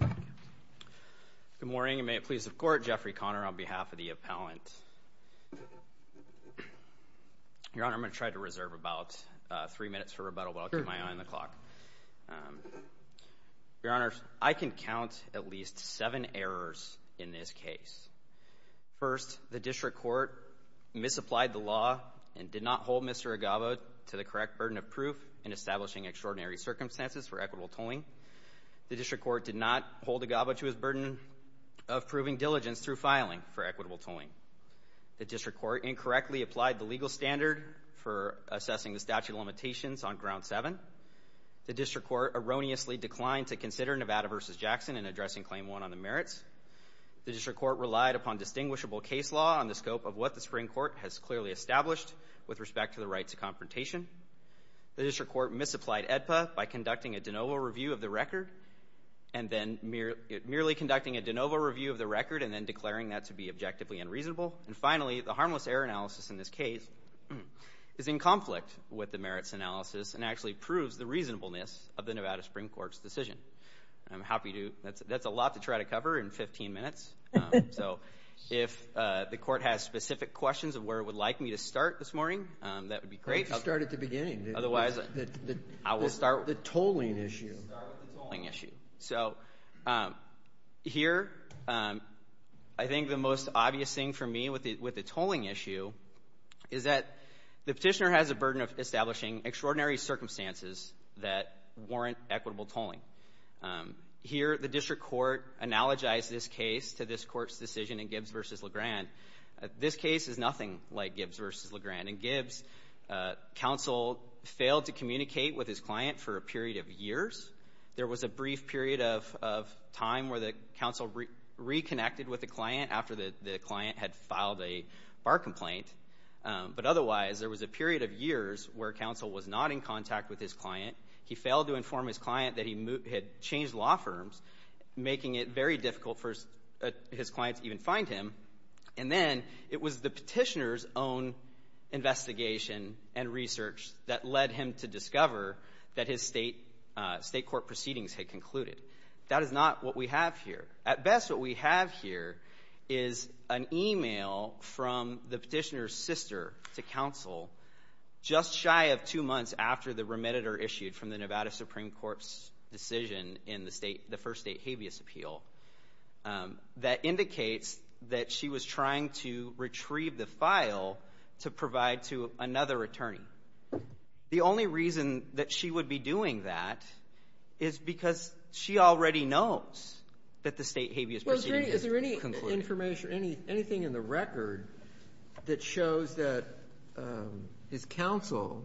Good morning, and may it please the Court, Jeffrey Conner on behalf of the appellant. Your Honor, I'm going to try to reserve about three minutes for rebuttal, but I'll keep my eye on the clock. Your Honor, I can count at least seven errors in this case. First, the District Court misapplied the law and did not hold Mr. Agavo to the correct burden of proof in establishing extraordinary circumstances for equitable tolling. The District Court did not hold Agavo to his burden of proving diligence through filing for equitable tolling. The District Court incorrectly applied the legal standard for assessing the statute of limitations on Ground 7. The District Court erroneously declined to consider Nevada v. Jackson in addressing Claim 1 on the merits. The District Court relied upon distinguishable case law on the scope of what the Supreme Court has clearly established with respect to the rights of confrontation. The District Court misapplied AEDPA by conducting a de novo review of the record and then merely conducting a de novo review of the record and then declaring that to be objectively unreasonable. And finally, the harmless error analysis in this case is in conflict with the merits analysis and actually proves the reasonableness of the Nevada Supreme Court's decision. I'm happy to – that's a lot to try to cover in 15 minutes, so if the Court has specific questions of where it would like me to start this morning, that would be great. Why don't you start at the beginning? Otherwise, I will start – The tolling issue. Start with the tolling issue. So, here, I think the most obvious thing for me with the tolling issue is that the petitioner has a burden of establishing extraordinary circumstances that warrant equitable tolling. Here, the District Court analogized this case to this Court's decision in Gibbs v. LeGrand. This case is nothing like Gibbs v. LeGrand. In Gibbs, counsel failed to communicate with his client for a period of years. There was a brief period of time where the counsel reconnected with the client after the client had filed a bar complaint, but otherwise, there was a period of years where counsel was not in contact with his client. He failed to inform his client that he had changed law firms, making it very difficult for his client to even find him. And then, it was the petitioner's own investigation and research that led him to discover that his state court proceedings had concluded. That is not what we have here. At best, what we have here is an email from the petitioner's sister to counsel, just shy of two months after the remediator issued from the Nevada Supreme Court's decision in the first state habeas appeal, that indicates that she was trying to retrieve the file to provide to another attorney. The only reason that she would be doing that is because she already knows that the state habeas proceeding has concluded. Is there any information, anything in the record that shows that his counsel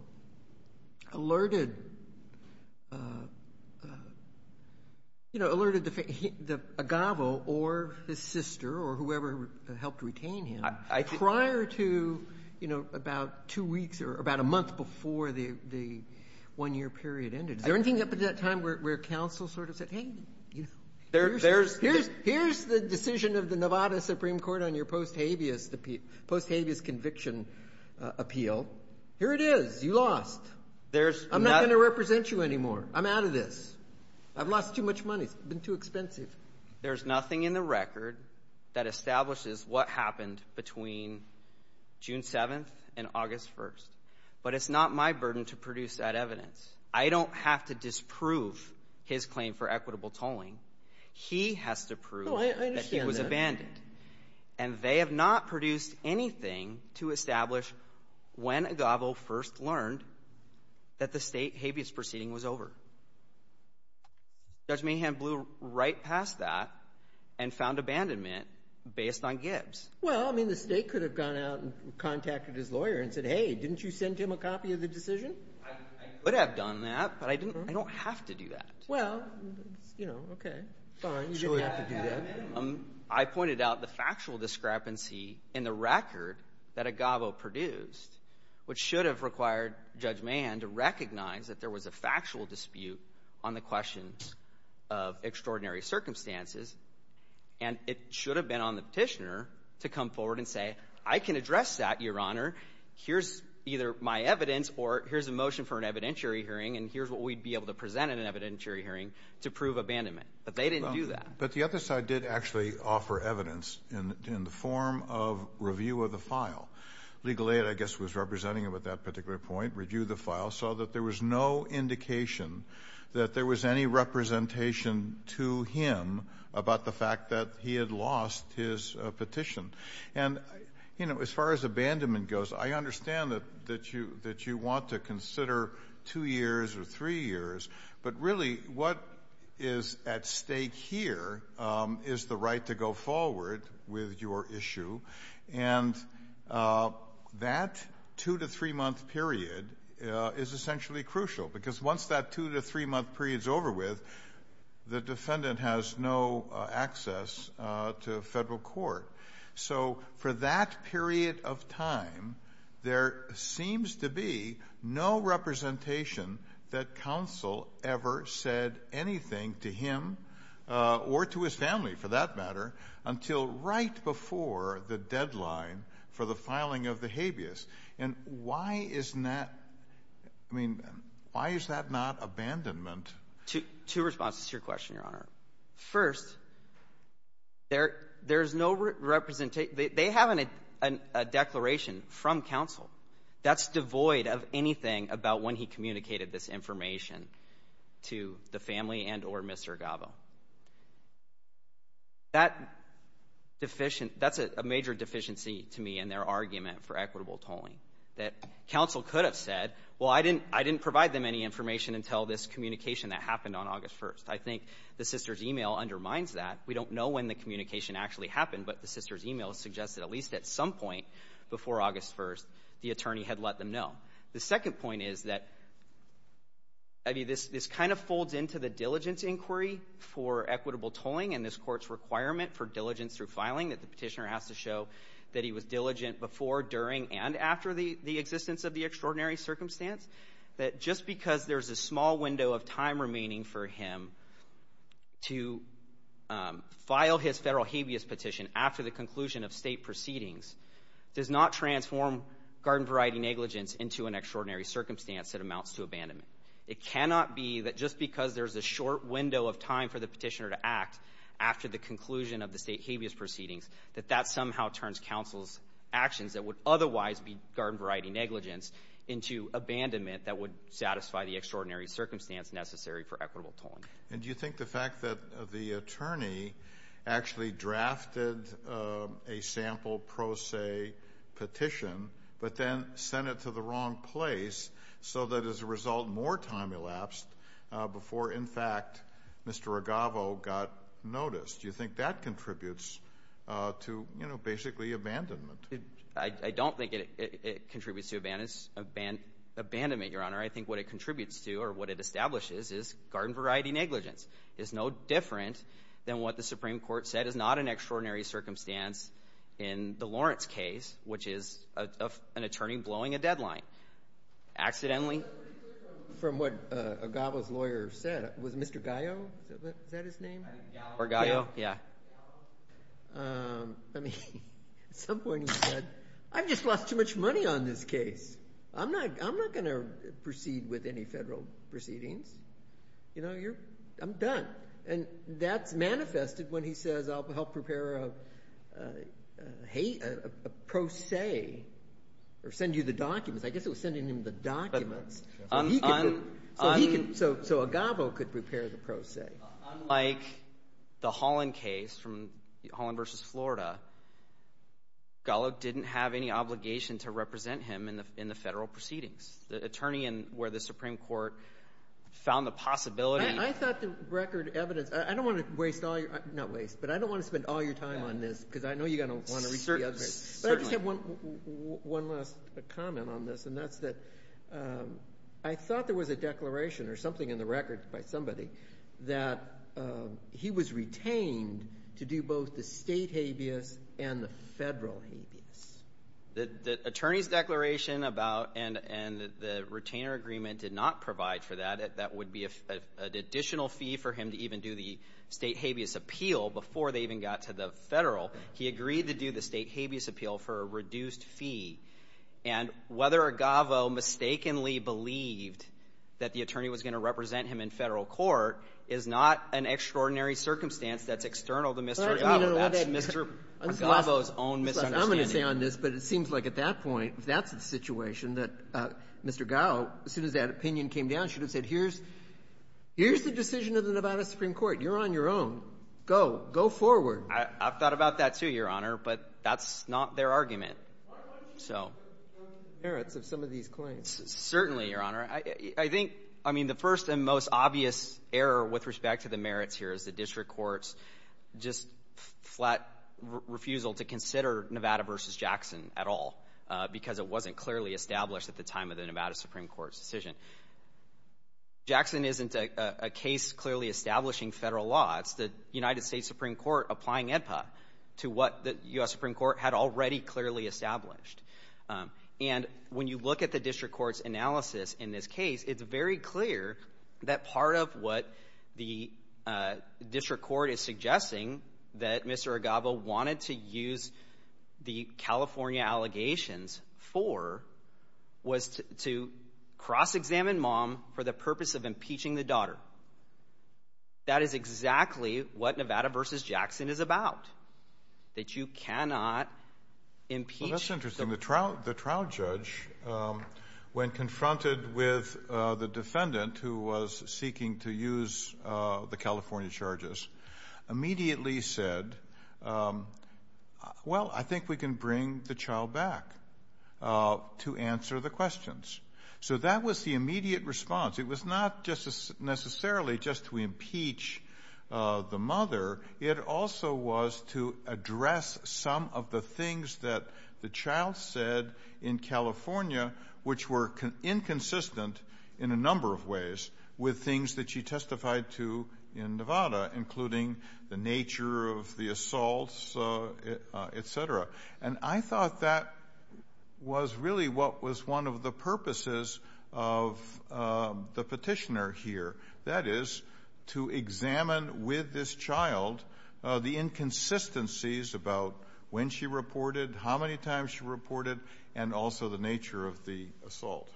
alerted Agavo or his sister or whoever helped retain him prior to about two weeks or about a month before the one-year period ended? Is there anything up at that time where counsel sort of said, hey, here's the decision of the Nevada Supreme Court on your post habeas conviction appeal. Here it is. You lost. I'm not going to represent you anymore. I'm out of this. I've lost too much money. It's been too expensive. There's nothing in the record that establishes what happened between June 7th and August 1st. But it's not my burden to produce that evidence. I don't have to disprove his claim for equitable tolling. He has to prove that he was abandoned. No, I understand that. And they have not produced anything to establish when Agavo first learned that the state habeas proceeding was over. Judge Mahan blew right past that and found abandonment based on Gibbs. Well, I mean, the State could have gone out and contacted his lawyer and said, hey, didn't you send him a copy of the decision? I could have done that, but I don't have to do that. Well, you know, okay. Fine. You didn't have to do that. I pointed out the factual discrepancy in the record that Agavo produced, which should have required Judge Mahan to recognize that there was a factual dispute on the questions of extraordinary circumstances, and it should have been on the petitioner to come forward and say, I can address that, Your Honor. Here's either my evidence or here's a motion for an evidentiary hearing, and here's what we'd be able to present in an evidentiary hearing to prove abandonment. But they didn't do that. But the other side did actually offer evidence in the form of review of the file. Legal Aid, I guess, was representing him at that particular point, reviewed the file, saw that there was no indication that there was any representation to him about the fact that he had lost his petition. And, you know, as far as abandonment goes, I understand that you want to consider two years or three years, but really what is at stake here is the right to go forward with your issue, and that two- to three-month period is essentially crucial, because once that two- to three-month period's over with, the defendant has no access to federal court. So for that period of time, there seems to be no representation that counsel ever said anything to him or to his family, for that matter, until right before the deadline for the filing of the habeas. And why isn't that – I mean, why is that not abandonment? Two responses to your question, Your Honor. First, there's no representation – they haven't had a declaration from counsel that's devoid of anything about when he communicated this information to the family and or Mr. Agavo. That's a major deficiency to me in their argument for equitable tolling, that counsel could have said, well, I didn't provide them any information until this communication that happened on August 1st. I think the sister's email undermines that. We don't know when the communication actually happened, but the sister's email suggests that at least at some point before August 1st, the attorney had let them know. The second point is that – I mean, this kind of folds into the diligence inquiry for equitable tolling and this Court's requirement for diligence through filing, that the Petitioner has to show that he was diligent before, during, and after the existence of the extraordinary circumstance, that just because there's a small window of time remaining for him to file his federal habeas petition after the conclusion of state proceedings does not transform garden variety negligence into an extraordinary circumstance that amounts to abandonment. It cannot be that just because there's a short window of time for the Petitioner to act after the conclusion of the state habeas proceedings, that that somehow turns counsel's actions that would otherwise be garden variety negligence into abandonment that would satisfy the extraordinary circumstance necessary for equitable tolling. And do you think the fact that the attorney actually drafted a sample pro se petition but then sent it to the wrong place so that as a result more time elapsed before, in fact, Mr. Ragavo got noticed, do you think that contributes to, you know, basically abandonment? I don't think it contributes to abandonment, Your Honor. I think what it contributes to or what it establishes is garden variety negligence. It's no different than what the Supreme Court said is not an extraordinary circumstance in the Lawrence case, which is an attorney blowing a deadline accidentally. From what Ragavo's lawyer said, was Mr. Gallo, is that his name? Or Gallo, yeah. I mean, at some point he said, I've just lost too much money on this case. I'm not going to proceed with any federal proceedings. You know, I'm done. And that's manifested when he says I'll help prepare a pro se or send you the documents. I guess it was sending him the documents. So he could—so Ragavo could prepare the pro se. Unlike the Holland case from Holland v. Florida, Gallo didn't have any obligation to represent him in the federal proceedings. The attorney where the Supreme Court found the possibility— I thought the record evidence—I don't want to waste all your—not waste, but I don't want to spend all your time on this because I know you're going to want to read the other. But I just have one last comment on this, and that's that I thought there was a declaration or something in the record by somebody that he was retained to do both the state habeas and the federal habeas. The attorney's declaration about—and the retainer agreement did not provide for that. That would be an additional fee for him to even do the state habeas appeal before they even got to the federal. He agreed to do the state habeas appeal for a reduced fee. And whether Ragavo mistakenly believed that the attorney was going to represent him in federal court is not an extraordinary circumstance that's external to Mr. Gallo. That's Mr. Ragavo's own misunderstanding. I'm going to say on this, but it seems like at that point, if that's the situation, that Mr. Gallo, as soon as that opinion came down, should have said, here's the decision of the Nevada Supreme Court. You're on your own. Go. Go forward. I've thought about that, too, Your Honor, but that's not their argument. So— Why don't you consider the merits of some of these claims? Certainly, Your Honor. I think — I mean, the first and most obvious error with respect to the merits here is the district court's just flat refusal to consider Nevada v. Jackson at all because it wasn't clearly established at the time of the Nevada Supreme Court's decision. Jackson isn't a case clearly establishing federal law. It's the United States Supreme Court applying AEDPA to what the U.S. Supreme Court had already clearly established. And when you look at the district court's analysis in this case, it's very clear that part of what the district court is suggesting that Mr. Agavo wanted to use the California allegations for was to cross-examine Mom for the purpose of impeaching the daughter. That is exactly what Nevada v. Jackson is about, that you cannot impeach— the defendant, who was seeking to use the California charges, immediately said, well, I think we can bring the child back to answer the questions. So that was the immediate response. It was not necessarily just to impeach the mother. It also was to address some of the things that the child said in California which were inconsistent in a number of ways with things that she testified to in Nevada, including the nature of the assaults, et cetera. And I thought that was really what was one of the purposes of the petitioner here, that is to examine with this child the inconsistencies about when she reported, how many times she reported, and also the nature of the assault.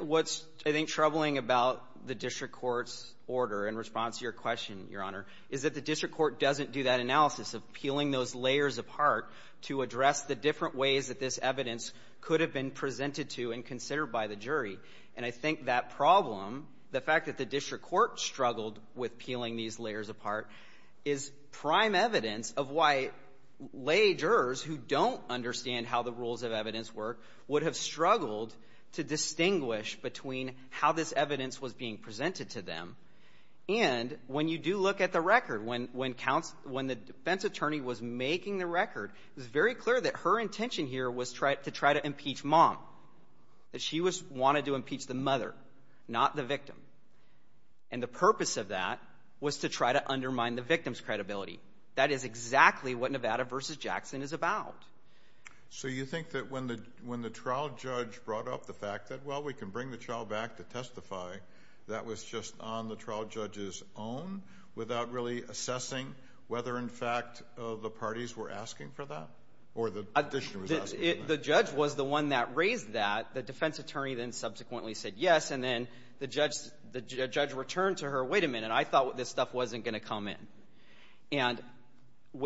What's, I think, troubling about the district court's order in response to your question, Your Honor, is that the district court doesn't do that analysis of peeling those layers apart to address the different ways that this evidence could have been presented to and considered by the jury. And I think that problem, the fact that the district court struggled with peeling these layers apart, is prime evidence of why lay jurors who don't understand how the rules of evidence work would have struggled to distinguish between how this evidence was being presented to them. And when you do look at the record, when the defense attorney was making the record, it was very clear that her intention here was to try to impeach mom, that she wanted to impeach the mother, not the victim. And the purpose of that was to try to undermine the victim's credibility. That is exactly what Nevada v. Jackson is about. So you think that when the trial judge brought up the fact that, well, we can bring the child back to testify, that was just on the trial judge's own without really assessing whether, in fact, the parties were asking for that or the petitioner was asking for that? The judge was the one that raised that. The defense attorney then subsequently said yes, and then the judge returned to her, wait a minute, I thought this stuff wasn't going to come in. And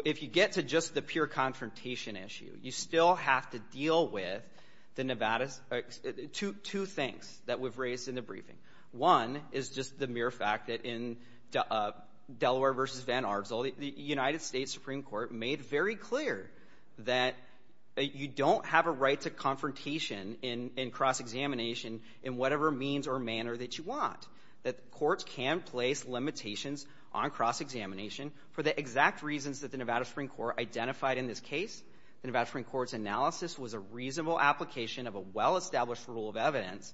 if you get to just the pure confrontation issue, you still have to deal with the Nevada's two things that we've raised in the briefing. One is just the mere fact that in Delaware v. Van Arsdale, the United States Supreme Court made very clear that you don't have a right to confrontation in cross-examination in whatever means or manner that you want, that courts can place limitations on cross-examination for the exact reasons that the Nevada Supreme Court identified in this case. The Nevada Supreme Court's analysis was a reasonable application of a well-established rule of evidence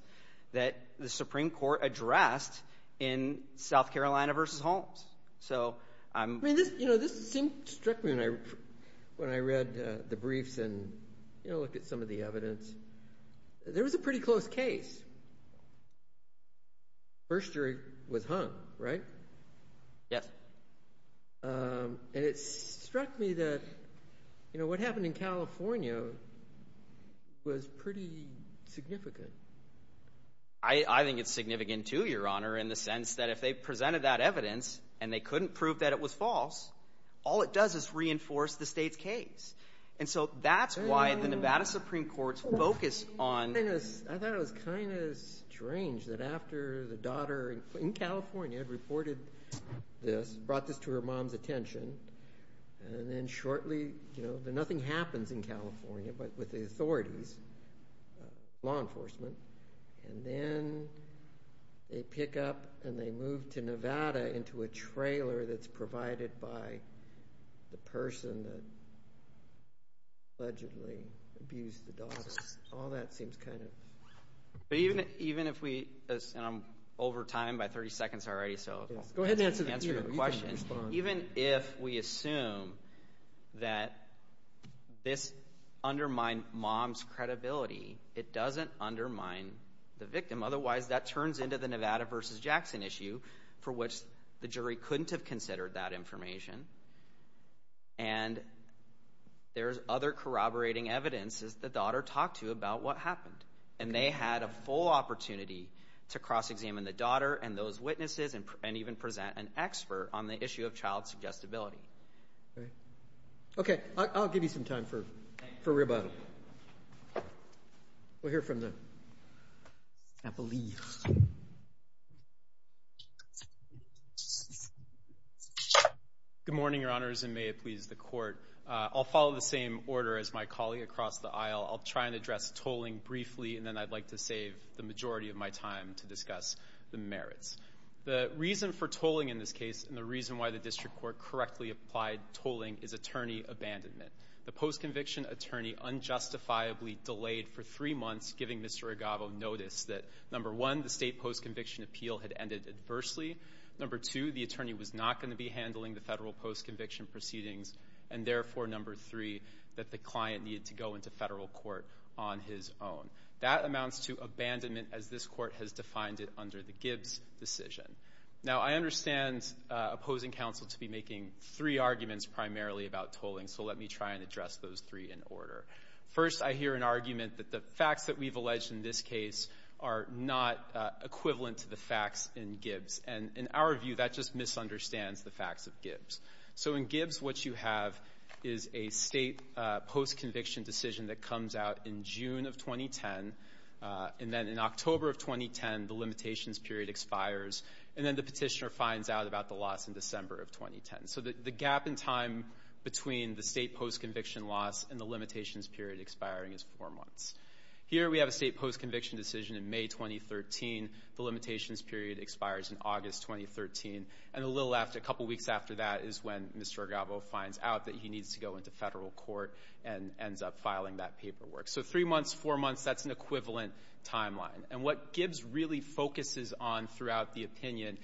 that the Supreme Court addressed in South Carolina v. Holmes. This struck me when I read the briefs and looked at some of the evidence. There was a pretty close case. First jury was hung, right? Yes. And it struck me that what happened in California was pretty significant. I think it's significant too, Your Honor, in the sense that if they presented that evidence and they couldn't prove that it was false, all it does is reinforce the state's case. And so that's why the Nevada Supreme Court's focus on— I thought it was kind of strange that after the daughter in California had reported this, brought this to her mom's attention, and then shortly, you know, and then they pick up and they move to Nevada into a trailer that's provided by the person that allegedly abused the daughter. All that seems kind of— But even if we—and I'm over time by 30 seconds already, so— Go ahead and answer the question. Even if we assume that this undermined mom's credibility, it doesn't undermine the victim. Otherwise, that turns into the Nevada v. Jackson issue for which the jury couldn't have considered that information. And there's other corroborating evidence that the daughter talked to about what happened. And they had a full opportunity to cross-examine the daughter and those witnesses and even present an expert on the issue of child suggestibility. All right. Okay, I'll give you some time for rebuttal. We'll hear from the— I believe. Good morning, Your Honors, and may it please the Court. I'll follow the same order as my colleague across the aisle. I'll try and address tolling briefly, and then I'd like to save the majority of my time to discuss the merits. The reason for tolling in this case and the reason why the district court correctly applied tolling is attorney abandonment. The post-conviction attorney unjustifiably delayed for three months giving Mr. Agavo notice that, number one, the state post-conviction appeal had ended adversely, number two, the attorney was not going to be handling the federal post-conviction proceedings, and therefore, number three, that the client needed to go into federal court on his own. That amounts to abandonment as this Court has defined it under the Gibbs decision. Now, I understand opposing counsel to be making three arguments primarily about tolling, so let me try and address those three in order. First, I hear an argument that the facts that we've alleged in this case are not equivalent to the facts in Gibbs. And in our view, that just misunderstands the facts of Gibbs. So in Gibbs, what you have is a state post-conviction decision that comes out in June of 2010, and then in October of 2010, the limitations period expires, and then the petitioner finds out about the loss in December of 2010. So the gap in time between the state post-conviction loss and the limitations period expiring is four months. Here we have a state post-conviction decision in May 2013. The limitations period expires in August 2013. And a little after, a couple weeks after that is when Mr. Argavo finds out that he needs to go into federal court and ends up filing that paperwork. So three months, four months, that's an equivalent timeline. And what Gibbs really focuses on throughout the opinion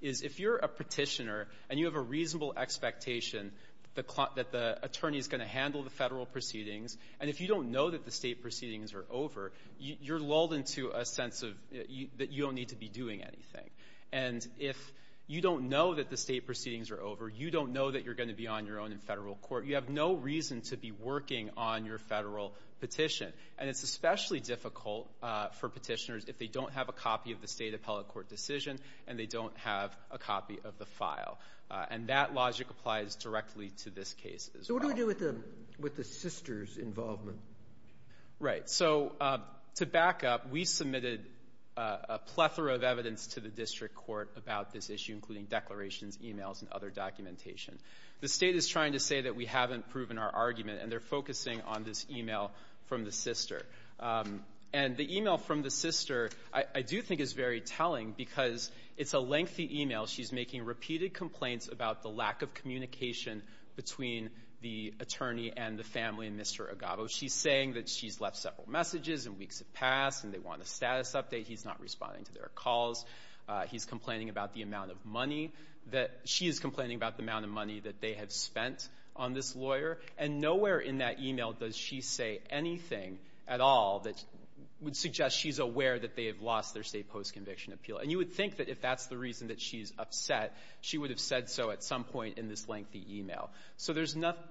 is if you're a petitioner and you have a reasonable expectation that the attorney is going to handle the federal proceedings, and if you don't know that the state proceedings are over, you're lulled into a sense of that you don't need to be doing anything. And if you don't know that the state proceedings are over, you don't know that you're going to be on your own in federal court, you have no reason to be working on your federal petition. And it's especially difficult for petitioners if they don't have a copy of the state appellate court decision and they don't have a copy of the file. And that logic applies directly to this case as well. So what do we do with the sisters' involvement? Right. So to back up, we submitted a plethora of evidence to the district court about this issue, including declarations, e-mails, and other documentation. The state is trying to say that we haven't proven our argument, and they're focusing on this e-mail from the sister. And the e-mail from the sister I do think is very telling because it's a lengthy e-mail. She's making repeated complaints about the lack of communication between the attorney and the family and Mr. Agavo. She's saying that she's left several messages and weeks have passed and they want a status update. He's not responding to their calls. He's complaining about the amount of money that she is complaining about, the amount of money that they have spent on this lawyer. And nowhere in that e-mail does she say anything at all that would suggest she's aware that they have lost their state post-conviction appeal. And you would think that if that's the reason that she's upset, she would have said so at some point in this lengthy e-mail. So there's nothing.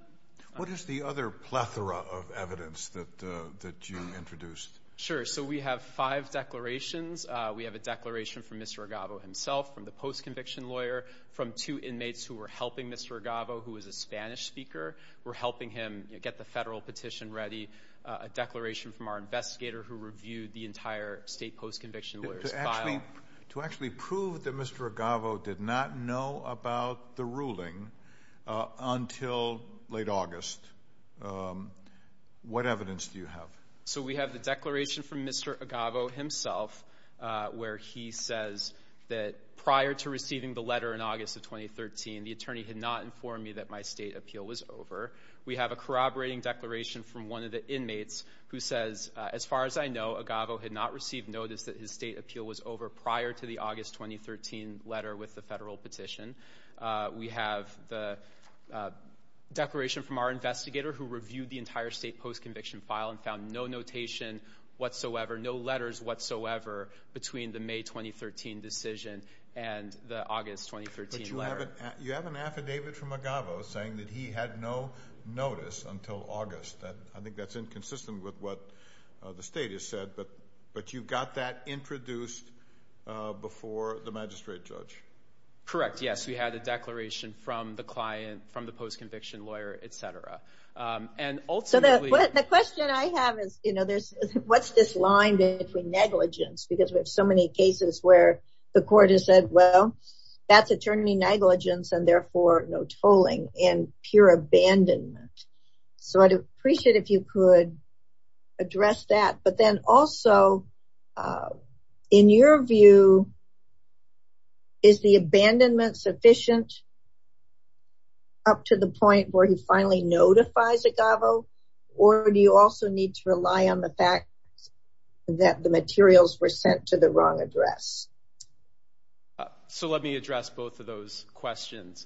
What is the other plethora of evidence that you introduced? Sure. So we have five declarations. We have a declaration from Mr. Agavo himself, from the post-conviction lawyer, from two inmates who were helping Mr. Agavo, who is a Spanish speaker, were helping him get the federal petition ready, a declaration from our investigator who reviewed the entire state post-conviction lawyer's file. To actually prove that Mr. Agavo did not know about the ruling until late August, what evidence do you have? So we have the declaration from Mr. Agavo himself, where he says that prior to receiving the letter in August of 2013, the attorney had not informed me that my state appeal was over. We have a corroborating declaration from one of the inmates who says, as far as I know, Agavo had not received notice that his state appeal was over prior to the August 2013 letter with the federal petition. We have the declaration from our investigator who reviewed the entire state post-conviction file and found no notation whatsoever, no letters whatsoever, between the May 2013 decision and the August 2013 letter. But you have an affidavit from Agavo saying that he had no notice until August. I think that's inconsistent with what the state has said, but you got that introduced before the magistrate judge. Correct, yes. We had a declaration from the client, from the post-conviction lawyer, et cetera. And ultimately the question I have is, you know, what's this line between negligence? Because we have so many cases where the court has said, well, that's attorney negligence, and therefore no tolling and pure abandonment. So I'd appreciate if you could address that. But then also, in your view, is the abandonment sufficient up to the point where he finally notifies Agavo, or do you also need to rely on the fact that the materials were sent to the wrong address? So let me address both of those questions.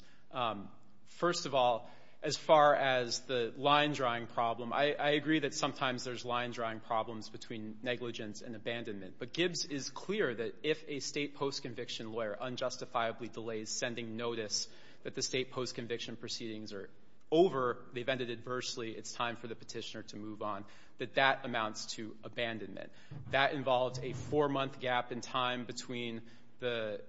First of all, as far as the line-drawing problem, I agree that sometimes there's line-drawing problems between negligence and abandonment. But Gibbs is clear that if a state post-conviction lawyer unjustifiably delays sending notice that the state post-conviction proceedings are over, they've ended adversely, it's time for the petitioner to move on, that that amounts to abandonment. That involves a four-month gap in time between the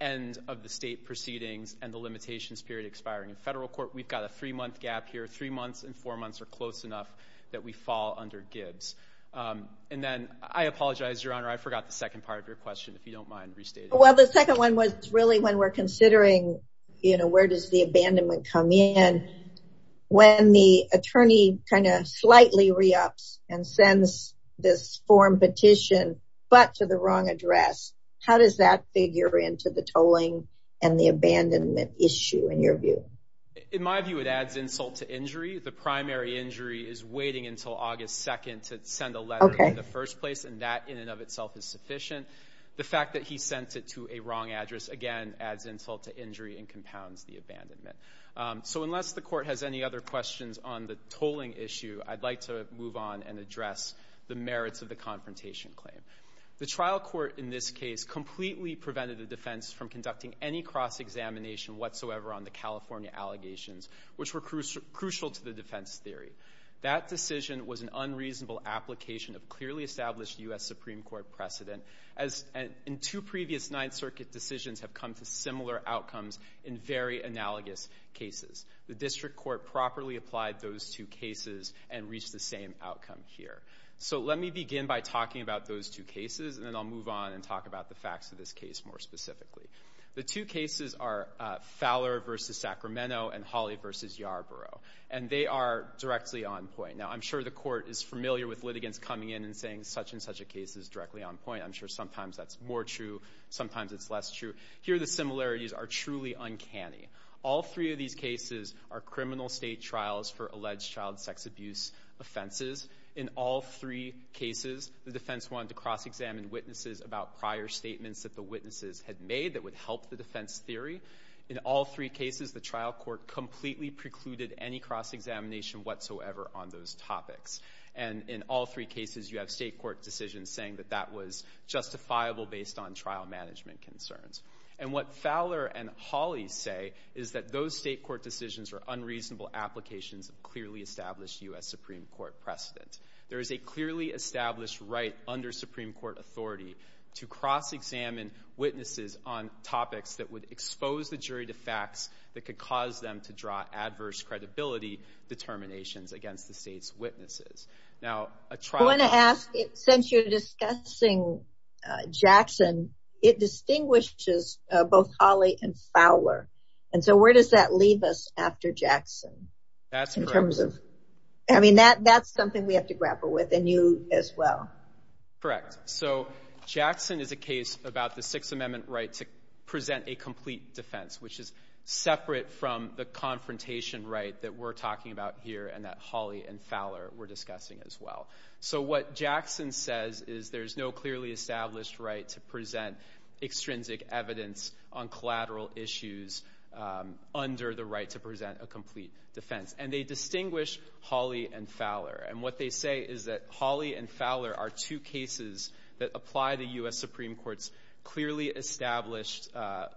end of the state proceedings and the limitations period expiring in federal court. We've got a three-month gap here. Three months and four months are close enough that we fall under Gibbs. And then I apologize, Your Honor, I forgot the second part of your question, if you don't mind restating it. Well, the second one was really when we're considering, you know, where does the abandonment come in? When the attorney kind of slightly re-ups and sends this form petition but to the wrong address, how does that figure into the tolling and the abandonment issue, in your view? In my view, it adds insult to injury. The primary injury is waiting until August 2nd to send a letter in the first place, and that in and of itself is sufficient. The fact that he sent it to a wrong address, again, adds insult to injury and compounds the abandonment. So unless the court has any other questions on the tolling issue, I'd like to move on and address the merits of the confrontation claim. The trial court in this case completely prevented the defense from conducting any cross-examination whatsoever on the California allegations, which were crucial to the defense theory. That decision was an unreasonable application of clearly established U.S. Supreme Court precedent. And two previous Ninth Circuit decisions have come to similar outcomes in very analogous cases. The district court properly applied those two cases and reached the same outcome here. So let me begin by talking about those two cases, and then I'll move on and talk about the facts of this case more specifically. The two cases are Fowler v. Sacramento and Hawley v. Yarborough, and they are directly on point. Now, I'm sure the court is familiar with litigants coming in and saying such and such a case is directly on point. I'm sure sometimes that's more true, sometimes it's less true. Here, the similarities are truly uncanny. All three of these cases are criminal state trials for alleged child sex abuse offenses. In all three cases, the defense wanted to cross-examine witnesses about prior statements that the witnesses had made that would help the defense theory. In all three cases, the trial court completely precluded any cross-examination whatsoever on those topics. And in all three cases, you have state court decisions saying that that was justifiable based on trial management concerns. And what Fowler and Hawley say is that those state court decisions are unreasonable applications of clearly established U.S. Supreme Court precedent. There is a clearly established right under Supreme Court authority to cross-examine witnesses on topics that would expose the jury to facts that could cause them to draw adverse credibility determinations against the state's witnesses. Now, a trial court... I want to ask, since you're discussing Jackson, it distinguishes both Hawley and Fowler. And so where does that leave us after Jackson? That's correct. I mean, that's something we have to grapple with, and you as well. Correct. So Jackson is a case about the Sixth Amendment right to present a complete defense, which is separate from the confrontation right that we're talking about here and that Hawley and Fowler were discussing as well. So what Jackson says is there's no clearly established right to present extrinsic evidence on collateral issues under the right to present a complete defense. And what they say is that Hawley and Fowler are two cases that apply the U.S. Supreme Court's clearly established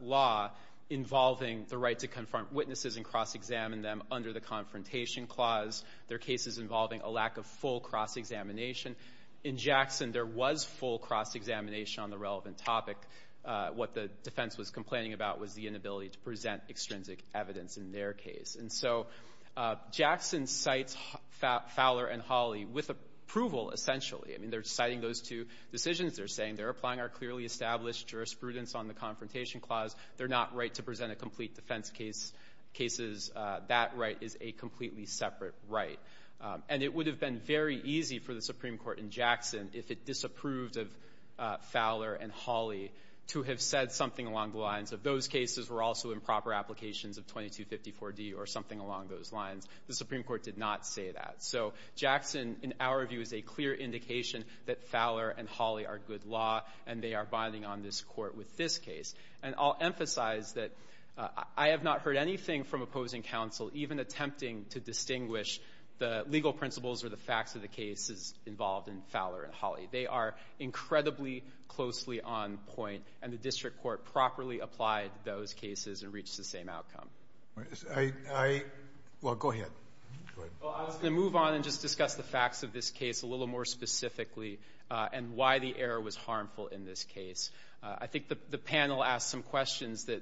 law involving the right to confront witnesses and cross-examine them under the Confrontation Clause. They're cases involving a lack of full cross-examination. In Jackson, there was full cross-examination on the relevant topic. What the defense was complaining about was the inability to present extrinsic evidence in their case. And so Jackson cites Fowler and Hawley with approval, essentially. I mean, they're citing those two decisions. They're saying they're applying our clearly established jurisprudence on the Confrontation Clause. They're not right to present a complete defense case. That right is a completely separate right. And it would have been very easy for the Supreme Court in Jackson, if it disapproved of Fowler and Hawley, to have said something along the lines of, those cases were also improper applications of 2254D or something along those lines. The Supreme Court did not say that. So Jackson, in our view, is a clear indication that Fowler and Hawley are good law, and they are binding on this Court with this case. And I'll emphasize that I have not heard anything from opposing counsel even attempting to distinguish the legal principles or the facts of the cases involved in Fowler and Hawley. They are incredibly closely on point, and the District Court properly applied those cases and reached the same outcome. Well, go ahead. I was going to move on and just discuss the facts of this case a little more specifically and why the error was harmful in this case. I think the panel asked some questions that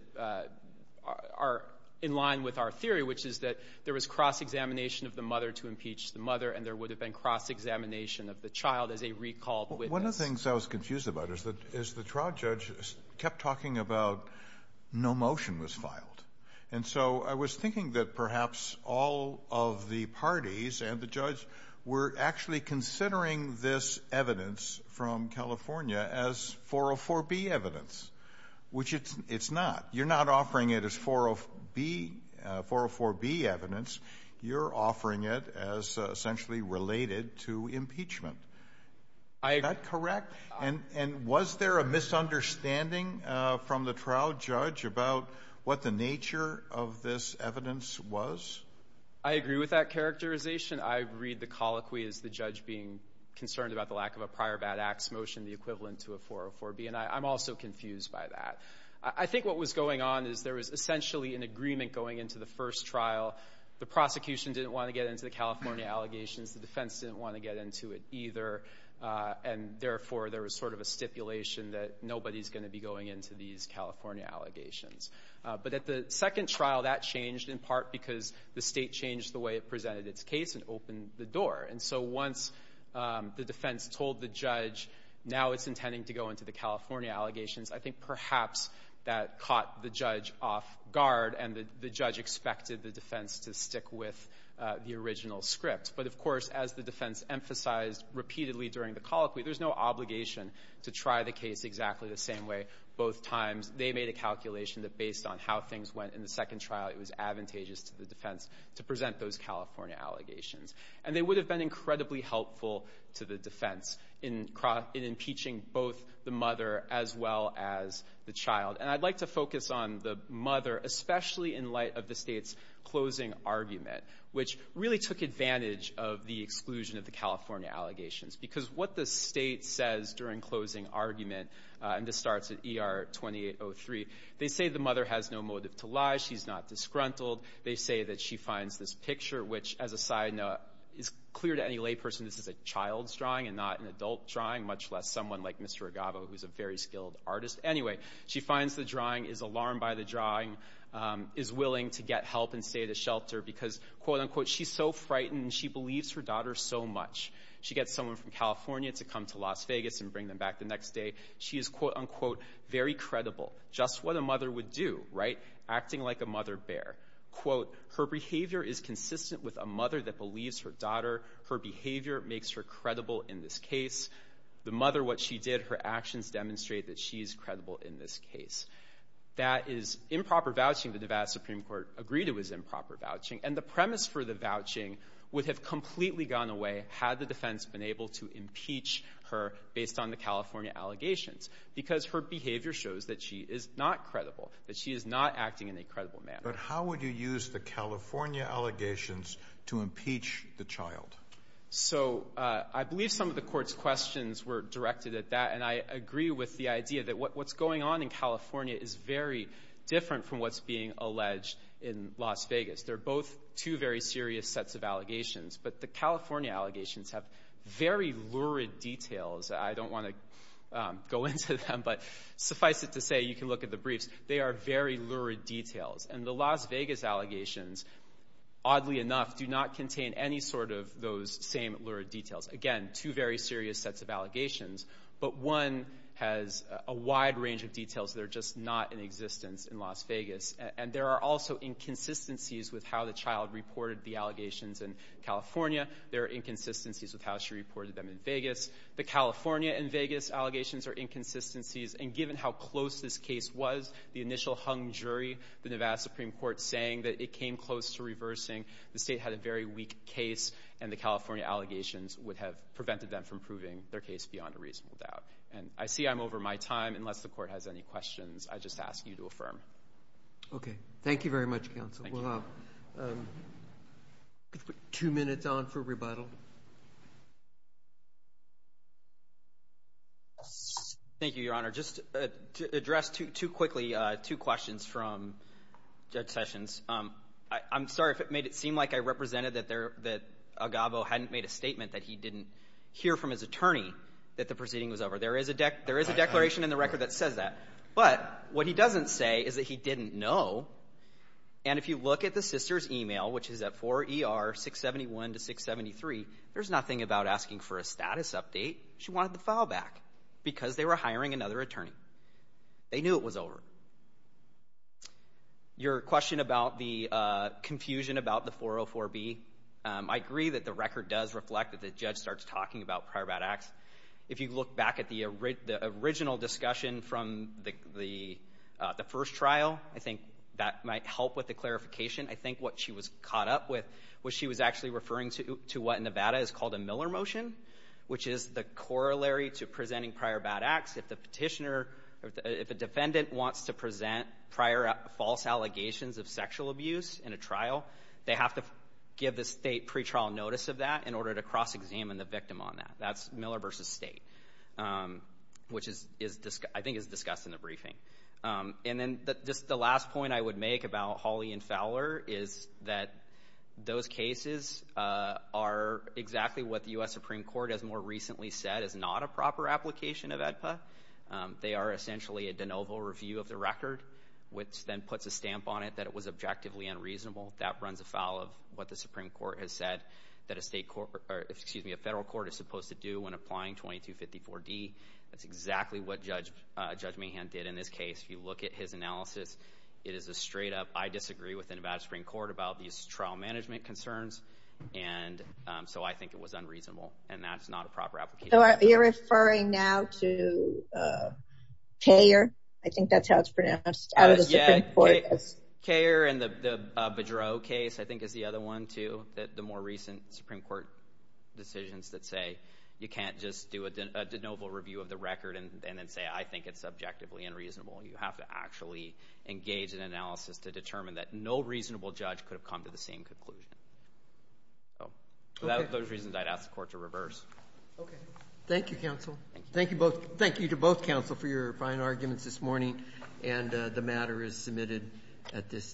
are in line with our theory, which is that there was cross-examination of the mother to impeach the mother, and there would have been cross-examination of the child as a recalled witness. One of the things I was confused about is that the trial judge kept talking about no motion was filed. And so I was thinking that perhaps all of the parties and the judge were actually considering this evidence from California as 404B evidence, which it's not. You're not offering it as 404B evidence. You're offering it as essentially related to impeachment. Is that correct? And was there a misunderstanding from the trial judge about what the nature of this evidence was? I agree with that characterization. I read the colloquy as the judge being concerned about the lack of a prior bad acts motion, the equivalent to a 404B, and I'm also confused by that. I think what was going on is there was essentially an agreement going into the first trial. The prosecution didn't want to get into the California allegations. The defense didn't want to get into it either, and therefore there was sort of a stipulation that nobody's going to be going into these California allegations. But at the second trial, that changed in part because the state changed the way it presented its case and opened the door. And so once the defense told the judge now it's intending to go into the California allegations, I think perhaps that caught the judge off guard and the judge expected the defense to stick with the original script. But, of course, as the defense emphasized repeatedly during the colloquy, there's no obligation to try the case exactly the same way both times. They made a calculation that based on how things went in the second trial, it was advantageous to the defense to present those California allegations. And they would have been incredibly helpful to the defense in impeaching both the mother as well as the child. And I'd like to focus on the mother, especially in light of the state's closing argument, which really took advantage of the exclusion of the California allegations, because what the state says during closing argument, and this starts at ER 2803, they say the mother has no motive to lie. She's not disgruntled. They say that she finds this picture, which, as a side note, is clear to any lay person. This is a child's drawing and not an adult drawing, much less someone like Mr. Agava, who's a very skilled artist. Anyway, she finds the drawing, is alarmed by the drawing, is willing to get help and stay at a shelter because, quote, unquote, she's so frightened and she believes her daughter so much. She gets someone from California to come to Las Vegas and bring them back the next day. She is, quote, unquote, very credible. Just what a mother would do, right? Quote, her behavior is consistent with a mother that believes her daughter. Her behavior makes her credible in this case. The mother, what she did, her actions demonstrate that she is credible in this case. That is improper vouching that Nevada Supreme Court agreed it was improper vouching, and the premise for the vouching would have completely gone away had the defense been able to impeach her based on the California allegations because her behavior shows that she is not credible, that she is not acting in a credible manner. But how would you use the California allegations to impeach the child? So I believe some of the court's questions were directed at that, and I agree with the idea that what's going on in California is very different from what's being alleged in Las Vegas. They're both two very serious sets of allegations, but the California allegations have very lurid details. I don't want to go into them, but suffice it to say you can look at the briefs. They are very lurid details, and the Las Vegas allegations, oddly enough, do not contain any sort of those same lurid details. Again, two very serious sets of allegations, but one has a wide range of details that are just not in existence in Las Vegas, and there are also inconsistencies with how the child reported the allegations in California. There are inconsistencies with how she reported them in Vegas. The California and Vegas allegations are inconsistencies, and given how close this case was, the initial hung jury, the Nevada Supreme Court saying that it came close to reversing, the state had a very weak case, and the California allegations would have prevented them from proving their case beyond a reasonable doubt. I see I'm over my time. Unless the court has any questions, I just ask you to affirm. Okay. Thank you very much, counsel. We'll have two minutes on for rebuttal. Thank you, Your Honor. Just to address two quickly, two questions from Judge Sessions. I'm sorry if it made it seem like I represented that Agavo hadn't made a statement that he didn't hear from his attorney that the proceeding was over. There is a declaration in the record that says that, but what he doesn't say is that he didn't know, and if you look at the sister's email, which is at 4ER 671 to 673, there's nothing about asking for a status update. She wanted the file back because they were hiring another attorney. They knew it was over. Your question about the confusion about the 404B, I agree that the record does reflect that the judge starts talking about prior bad acts. If you look back at the original discussion from the first trial, I think that might help with the clarification. I think what she was caught up with was she was actually referring to what in Nevada is called a Miller motion, which is the corollary to presenting prior bad acts. If a defendant wants to present prior false allegations of sexual abuse in a trial, they have to give the state pretrial notice of that in order to cross-examine the victim on that. That's Miller versus state, which I think is discussed in the briefing. And then just the last point I would make about Hawley and Fowler is that those cases are exactly what the U.S. Supreme Court has more recently said is not a proper application of AEDPA. They are essentially a de novo review of the record, which then puts a stamp on it that it was objectively unreasonable. That runs afoul of what the Supreme Court has said that a federal court is supposed to do when applying 2254D. That's exactly what Judge Mahan did in this case. If you look at his analysis, it is a straight up, I disagree with the Nevada Supreme Court about these trial management concerns. And so I think it was unreasonable, and that's not a proper application. So you're referring now to Kayer? I think that's how it's pronounced out of the Supreme Court. Kayer and the Bedreau case I think is the other one, too, that the more recent Supreme Court decisions that say you can't just do a de novo review of the record and then say I think it's objectively unreasonable. You have to actually engage in analysis to determine that no reasonable judge could have come to the same conclusion. So without those reasons, I'd ask the court to reverse. Okay. Thank you, counsel. Thank you to both counsel for your fine arguments this morning, and the matter is submitted at this time.